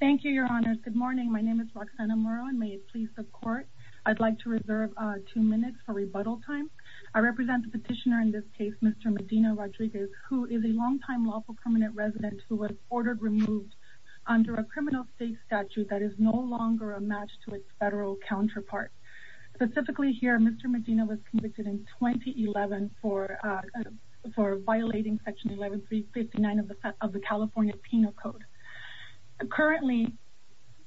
Thank you, your honors. Good morning. My name is Roxana Muro and may it please the court. I'd like to reserve two minutes for rebuttal time. I represent the petitioner in this case, Mr. Medina-Rodriguez, who is a longtime lawful permanent resident who was ordered removed under a criminal state statute that is no longer a match to its federal counterpart. Specifically here, Mr. Medina was convicted in 2011 for violating section 11359 of the California Penal Code. Currently,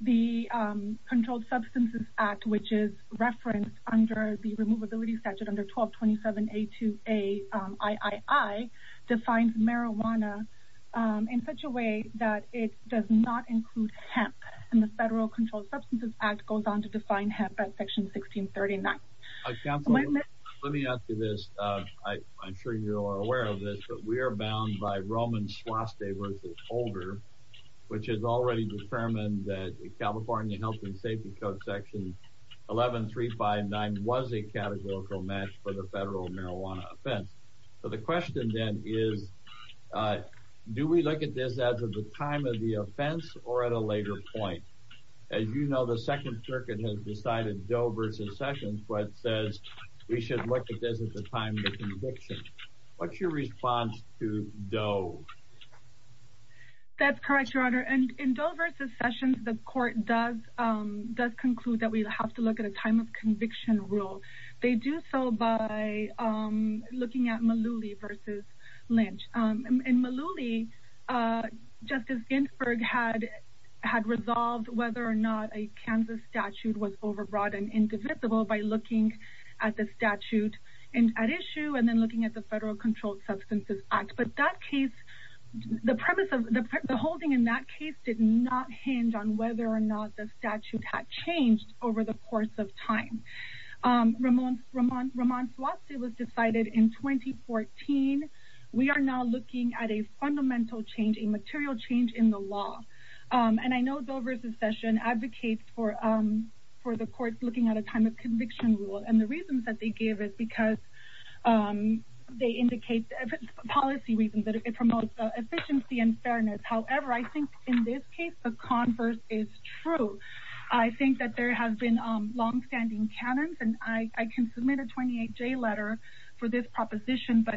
the Controlled Substances Act, which is referenced under the Removability Statute under 1227A2AIII, defines marijuana in such a way that it does not include hemp, and the Federal Controlled Substances Act goes on to define hemp as section 1639. William Barr Counsel, let me add to this. I'm sure you are aware of this, but we are bound by Roman Swastik versus Holder, which has already determined that California Health and Safety Code section 11359 was a categorical match for the federal marijuana offense. So the question then is, do we look at this as of the time of the offense or at a later point? As you know, the Second Circuit has decided Doe versus Sessions, but says we should look at this at the time of conviction. What's your response to Doe? That's correct, Your Honor. In Doe versus Sessions, the court does conclude that we have to look at a time of conviction rule. They do so by looking at Malooly versus Lynch. In Malooly, Justice Ginsburg had resolved whether or not a Kansas statute was overbroad and indivisible by looking at the statute at issue and then looking at the Federal Controlled Substances Act. But the holding in that case did not hinge on whether or not the statute had changed over the course of time. Roman Swastik was decided in 2014. We are now looking at a fundamental change, a material change in the law. And I know Doe versus Sessions advocates for the court looking at a time of conviction rule. And the reasons that they give is because they indicate policy reasons that it promotes efficiency and fairness. However, I think in this case, the converse is true. I think that there have been long-standing canons, and I can submit a 28-J letter for this proposition, but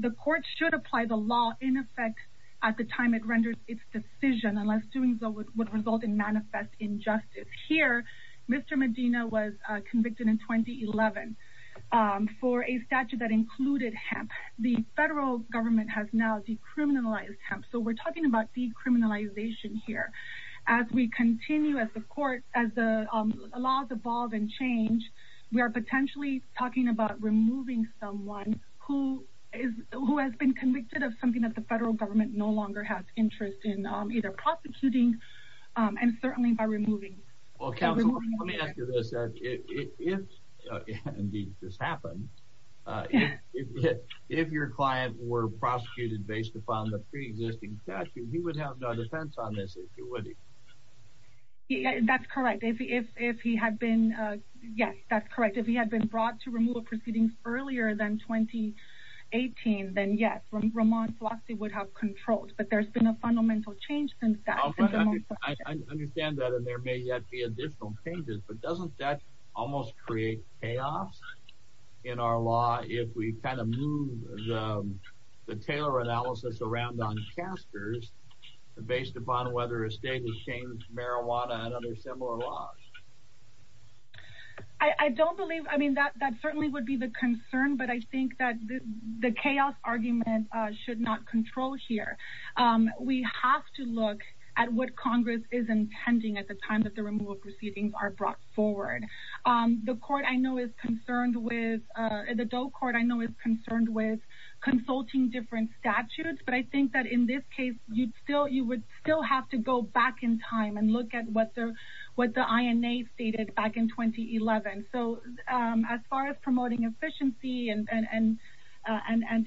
the court should apply the law in effect at the time it renders its decision unless doing so would result in manifest injustice. Here, Mr. Medina was convicted in 2011 for a statute that included hemp. The federal government has now decriminalized hemp, so we're talking about decriminalization here. As we continue, as the laws evolve and change, we are potentially talking about removing someone who has been convicted of something that the and certainly by removing... Well, counsel, let me ask you this. If, indeed, this happened, if your client were prosecuted based upon the pre-existing statute, he would have no defense on this, would he? That's correct. If he had been, yes, that's correct. If he had been brought to removal proceedings earlier than 2018, then yes, Roman Swastik would have controlled. But there's been a fundamental change since then. I understand that, and there may yet be additional changes, but doesn't that almost create chaos in our law if we kind of move the Taylor analysis around on casters based upon whether a state has changed marijuana and other similar laws? I don't believe... I mean, that certainly would be the concern, but I think that the chaos argument should not control here. We have to look at what Congress is intending at the time that the removal proceedings are brought forward. The court I know is concerned with... The DOE court I know is concerned with consulting different statutes, but I think that in this case, you would still have to go back in time and look at what the INA stated back in 2011. So as far as promoting efficiency and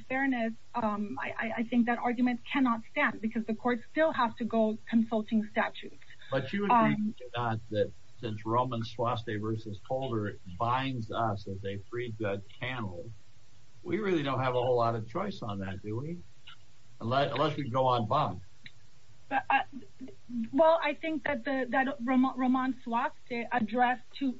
fairness, I think that argument cannot stand because the court still has to go consulting statutes. But you would think that since Roman Swastik versus Holder binds us that they freed the cannibal, we really don't have a whole lot of choice on that, do we? Unless we go on bond. Well, I think that Roman Swastik addressed two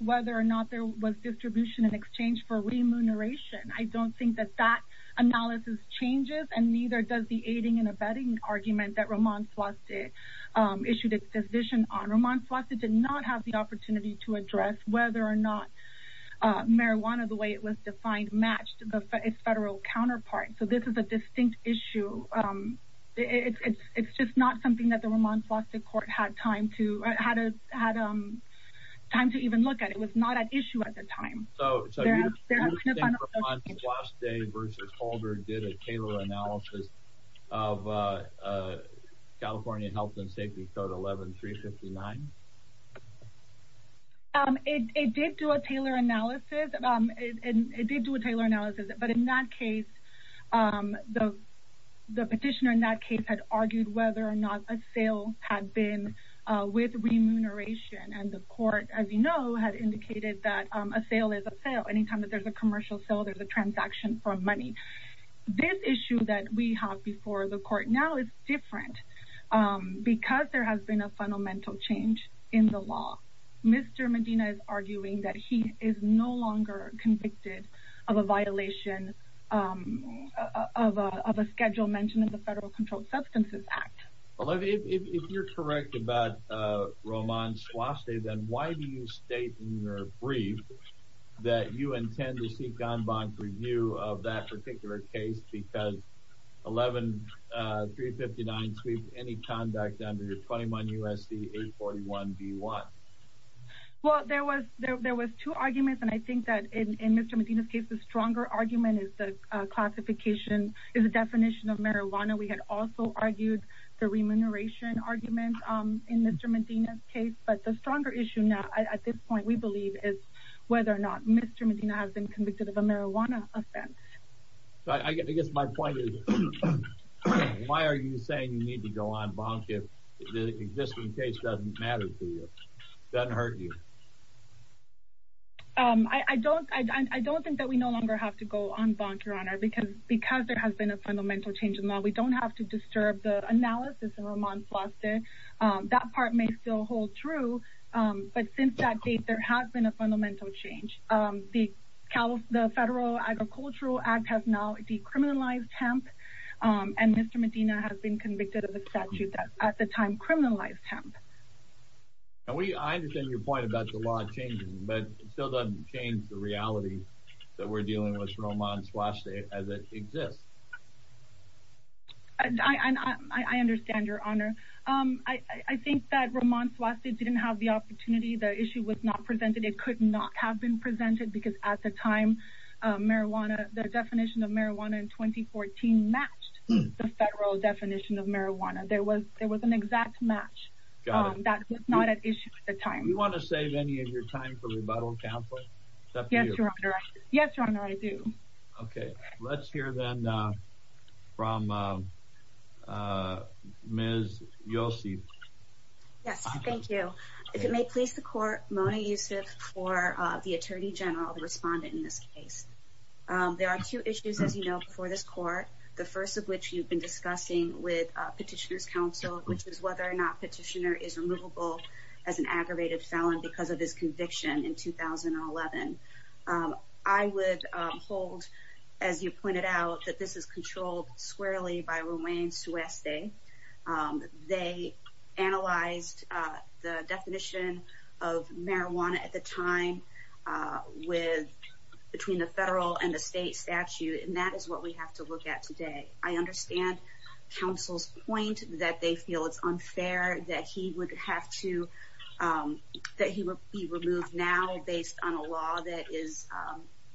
whether or not there was distribution in exchange for remuneration. I don't think that that analysis changes and neither does the aiding and abetting argument that Roman Swastik issued a decision on. Roman Swastik did not have the opportunity to address whether or not marijuana the way it was defined matched its federal counterpart. So this is a distinct issue. It's just not something that the Roman Swastik court had time to even look at. It was not an issue at the time. So you think Roman Swastik versus Holder did a tailor analysis of California Health and Safety Code 11359? It did do a tailor analysis, but in that case, the petitioner in that case had argued whether or not a sale had been with remuneration. And the court, as you know, had indicated that a sale is a sale. Anytime that there's a commercial sale, there's a transaction for money. This issue that we have before the court now is different because there has been a fundamental change in the law. Mr. Medina is arguing that he is no longer convicted of a violation of a schedule mentioned in the Federal Controlled Substances Act. Olivia, if you're correct about Roman Swastik, then why do you state in your brief that you intend to seek en banc review of that particular case because 11359 sweeps any conduct under your 21 U.S.C. 841b1? Well, there was two arguments, and I think that in Mr. Medina's case, the stronger argument is the classification, is the definition of marijuana. We had also argued the remuneration argument in Mr. Medina's case, but the stronger issue now at this point, we believe, is whether or not Mr. Medina has been convicted. Why are you saying you need to go en banc if the existing case doesn't matter to you, doesn't hurt you? I don't think that we no longer have to go en banc, Your Honor, because there has been a fundamental change in the law. We don't have to disturb the analysis of Roman Swastik. That part may still hold true, but since that date, there has been a fundamental change. The Federal Agricultural Act has now decriminalized hemp, and Mr. Medina has been convicted of a statute that at the time criminalized hemp. I understand your point about the law changing, but it still doesn't change the reality that we're dealing with Roman Swastik as it exists. I understand, Your Honor. I think that Roman Swastik didn't have the opportunity. The issue was not presented. It could not have been presented, because at the time, the definition of marijuana in 2014 matched the Federal definition of marijuana. There was an exact match that was not at issue at the time. Do you want to save any of your time for rebuttal, Counselor? Yes, Your Honor, I do. Okay. Let's hear then from Ms. Yossi. Yes, thank you. If it may please the Court, Mona Youssef for the Attorney General, the respondent in this case. There are two issues, as you know, before this Court, the first of which you've been discussing with Petitioner's Counsel, which is whether or not Petitioner is removable as an aggravated felon because of his conviction in 2011. I would hold, as you pointed out, that this is controlled squarely by Roman Swastik. They analyzed the definition of marijuana at the time between the Federal and the State statute, and that is what we have to look at today. I understand Counsel's point that they feel it's unfair that he would be removed now based on a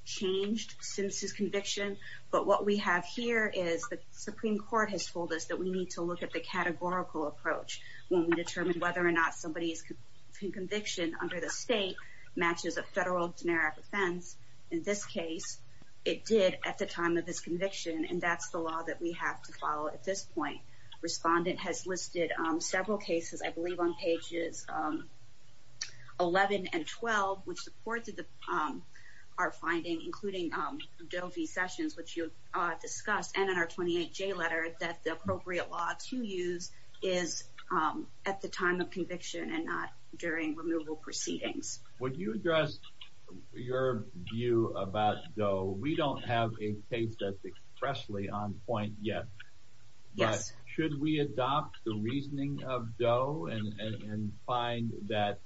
changed Simpson's conviction, but what we have here is the Supreme Court has told us that we need to look at the categorical approach when we determine whether or not somebody's conviction under the State matches a Federal generic offense. In this case, it did at the time of his conviction, and that's the law that we have to follow at this point. Respondent has listed several cases, I think, to our finding, including Doe v. Sessions, which you've discussed, and in our 28J letter, that the appropriate law to use is at the time of conviction and not during removal proceedings. Would you address your view about Doe? We don't have a case that's expressly on point yet, but should we adopt the reasoning of Doe and find that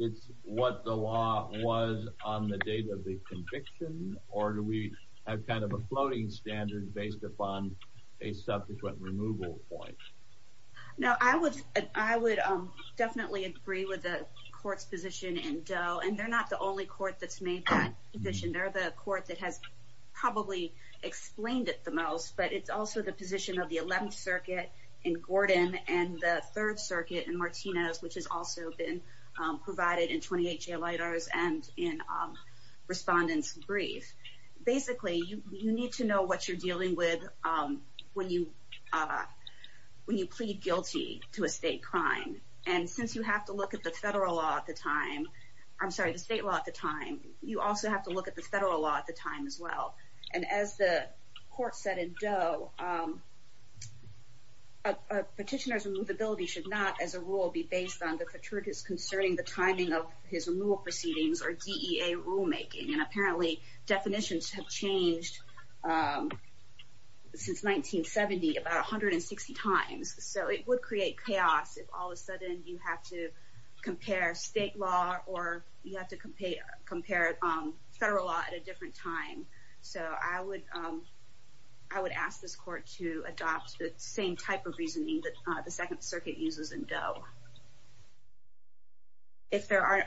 it's what the law was on the date of the conviction, or do we have kind of a floating standard based upon a subsequent removal point? No, I would definitely agree with the Court's position in Doe, and they're not the only court that's made that position. They're the court that has probably explained it the most, but it's also the position of the 11th Circuit in Gordon and the 3rd Circuit in Martinez, which has also been provided in 28J letters and in Respondent's brief. Basically, you need to know what you're dealing with when you plead guilty to a State crime, and since you have to look at the Federal law at the time, I'm sorry, the State law at the time, you also have to look at the Federal law at the time as well. And as the Court said in Doe, a petitioner's removability should not, as a rule, be based on the faturitas concerning the timing of his removal proceedings or DEA rulemaking, and apparently definitions have changed since 1970 about 160 times. So it would create chaos if all of a sudden you have to compare State law or you have to compare Federal law at a different time. So I would ask this Court to adopt the same type of reasoning that the 2nd Circuit uses in Doe. If there are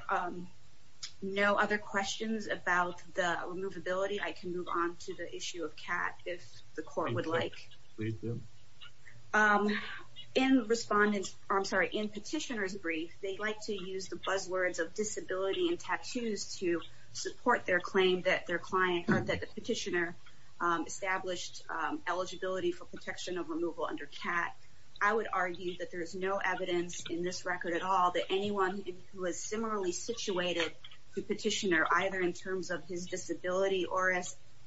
no other questions about the removability, I can move on to the issue of CAT if the Court would like. In Respondent's, I'm sorry, in Petitioner's brief, they like to use the buzzwords of disability and tattoos to support their claim that their client or that the petitioner established eligibility for protection of removal under CAT. I would argue that there is no evidence in this record at all that anyone who is similarly situated to Petitioner, either in terms of his disability or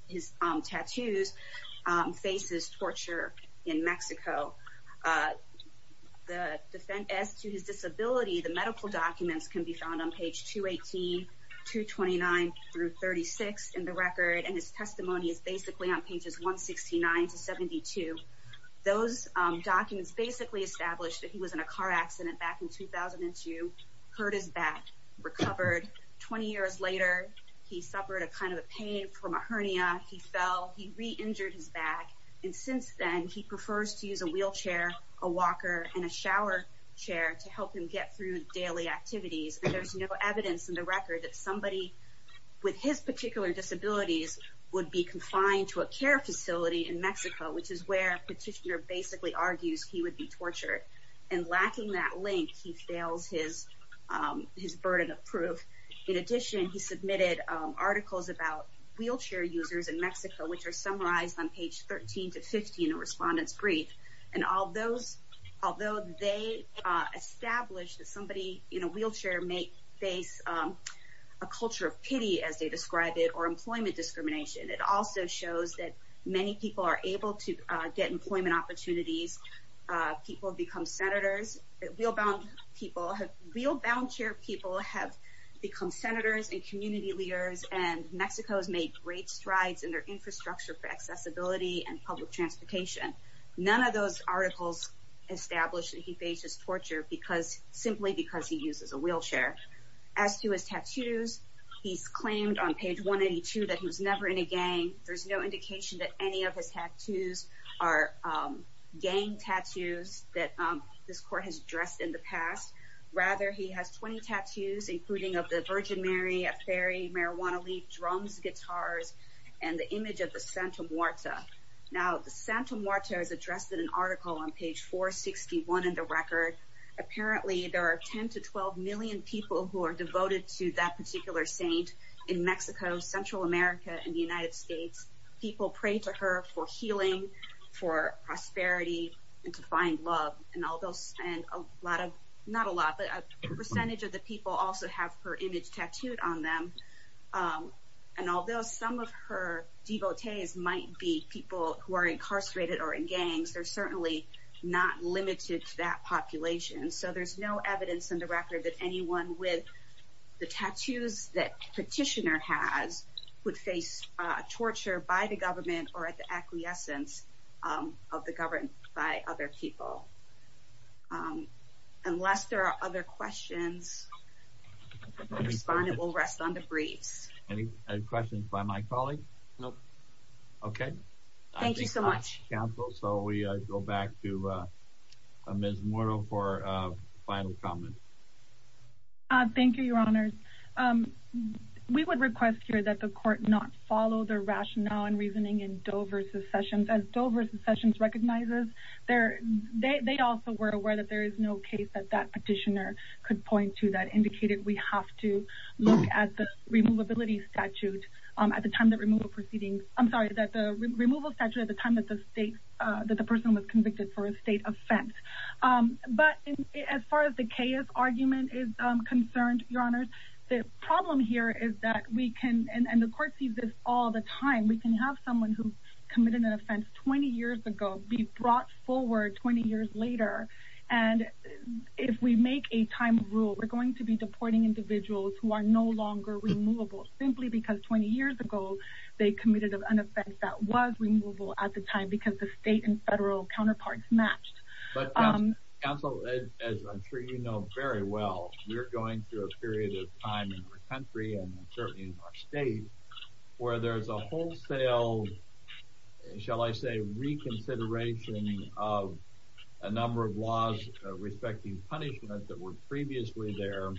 his tattoos, faces torture in Mexico. As to his disability, the medical documents can be found on page 218, 229 through 36 in the record, and his testimony is basically on pages 169 to 72. Those documents basically establish that he was in a car accident back in 2002, hurt his back, recovered. 20 years later, he suffered a kind of a pain from a hernia, he fell, he re-injured his back, and since then he prefers to use a wheelchair, a walker, and a shower chair to help him get through daily activities. There's no evidence in the record that somebody with his particular disabilities would be confined to a care facility in Mexico, which is where Petitioner basically argues he would be tortured. And lacking that link, he fails his burden of proof. In addition, he submitted articles about wheelchair users in Mexico, which are summarized on page 13 to 15 in a respondent's brief, and although they establish that somebody in a wheelchair may face a culture of pity, as they describe it, or employment discrimination, it also shows that many people are able to get employment opportunities, people become senators, wheel-bound chair people have become senators and community leaders, and Mexico has made great for accessibility and public transportation. None of those articles establish that he faces torture simply because he uses a wheelchair. As to his tattoos, he's claimed on page 182 that he was never in a gang. There's no indication that any of his tattoos are gang tattoos that this court has addressed in the past. Rather, he has 20 tattoos, including of the Virgin Mary, a fairy, marijuana leaf, drums, guitars, and the image of the Santa Muerta. Now, the Santa Muerta is addressed in an article on page 461 in the record. Apparently, there are 10 to 12 million people who are devoted to that particular saint in Mexico, Central America, and the United States. People pray to her for healing, for prosperity, and to find love. And although a lot of, not a lot, but a and although some of her devotees might be people who are incarcerated or in gangs, they're certainly not limited to that population. So there's no evidence in the record that anyone with the tattoos that Petitioner has would face torture by the government or at the acquiescence of the government by other people. Unless there are other questions, the respondent will rest on the breeze. Any questions by my colleague? Nope. Okay. Thank you so much. So we go back to Ms. Moro for a final comment. Thank you, Your Honors. We would request here that the court not follow the rationale and reasoning in Doe v. Sessions. As Doe v. Sessions recognizes, they also were aware that there is no case that that petitioner could point to that indicated we have to look at the removability statute at the time that removal proceedings, I'm sorry, that the removal statute at the time that the state, that the person was convicted for a state offense. But as far as the chaos argument is concerned, Your Honors, the problem here is that we can, and the court sees this all the time, we can have someone who be deporting individuals who are no longer removable simply because 20 years ago, they committed an offense that was removable at the time because the state and federal counterparts matched. But counsel, as I'm sure you know very well, we're going through a period of time in this country and certainly in our state where there's a wholesale, shall I say, reconsideration of a number of laws respecting punishment that were previously there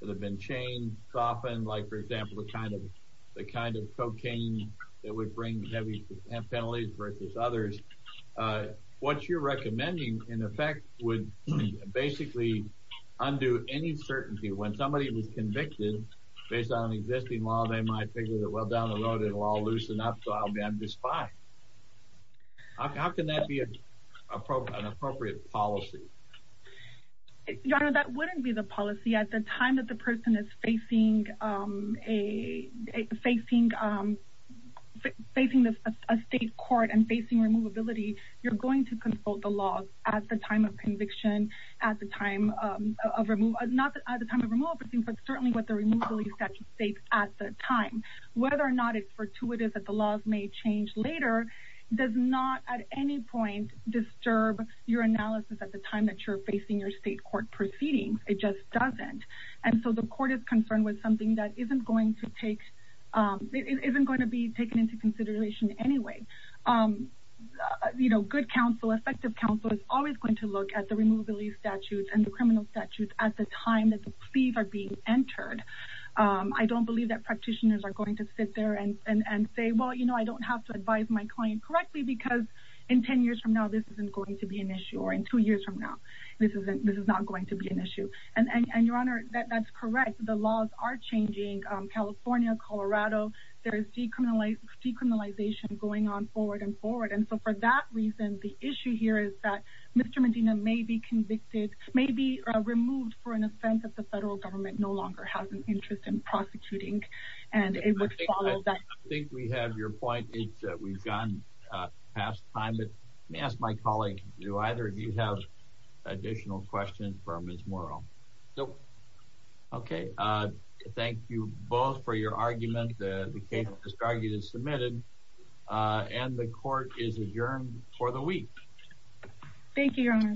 that have been changed, softened, like, for example, the kind of cocaine that would bring heavy penalties versus others. What you're recommending, in effect, would basically undo any certainty when somebody was convicted based on an existing law, they might figure that, well, down the road, it'll all loosen up, so I'll be just fine. How can that be an appropriate policy? Your Honor, that wouldn't be the policy. At the time that the person is facing a state court and facing removability, you're going to consult the laws at the time of conviction, not at the time but certainly what the removability statute states at the time. Whether or not it's fortuitous that the laws may change later does not at any point disturb your analysis at the time that you're facing your state court proceedings. It just doesn't. And so the court is concerned with something that isn't going to be taken into consideration anyway. Good counsel, effective counsel is always going to look at the removability statutes and the criminal statutes at the time the pleas are being entered. I don't believe that practitioners are going to sit there and say, well, you know, I don't have to advise my client correctly because in 10 years from now, this isn't going to be an issue or in two years from now, this is not going to be an issue. And Your Honor, that's correct. The laws are changing. California, Colorado, there is decriminalization going on forward and forward. And so for that reason, the issue here is that Mr. Medina may be convicted, may be removed for an offense that the federal government no longer has an interest in prosecuting. And it would follow that. I think we have your point. We've gone past time. Let me ask my colleague, do either of you have additional questions for Ms. Morrow? Nope. Okay. Thank you both for your argument. The case is submitted and the court is adjourned for the week. Thank you, Your Honor.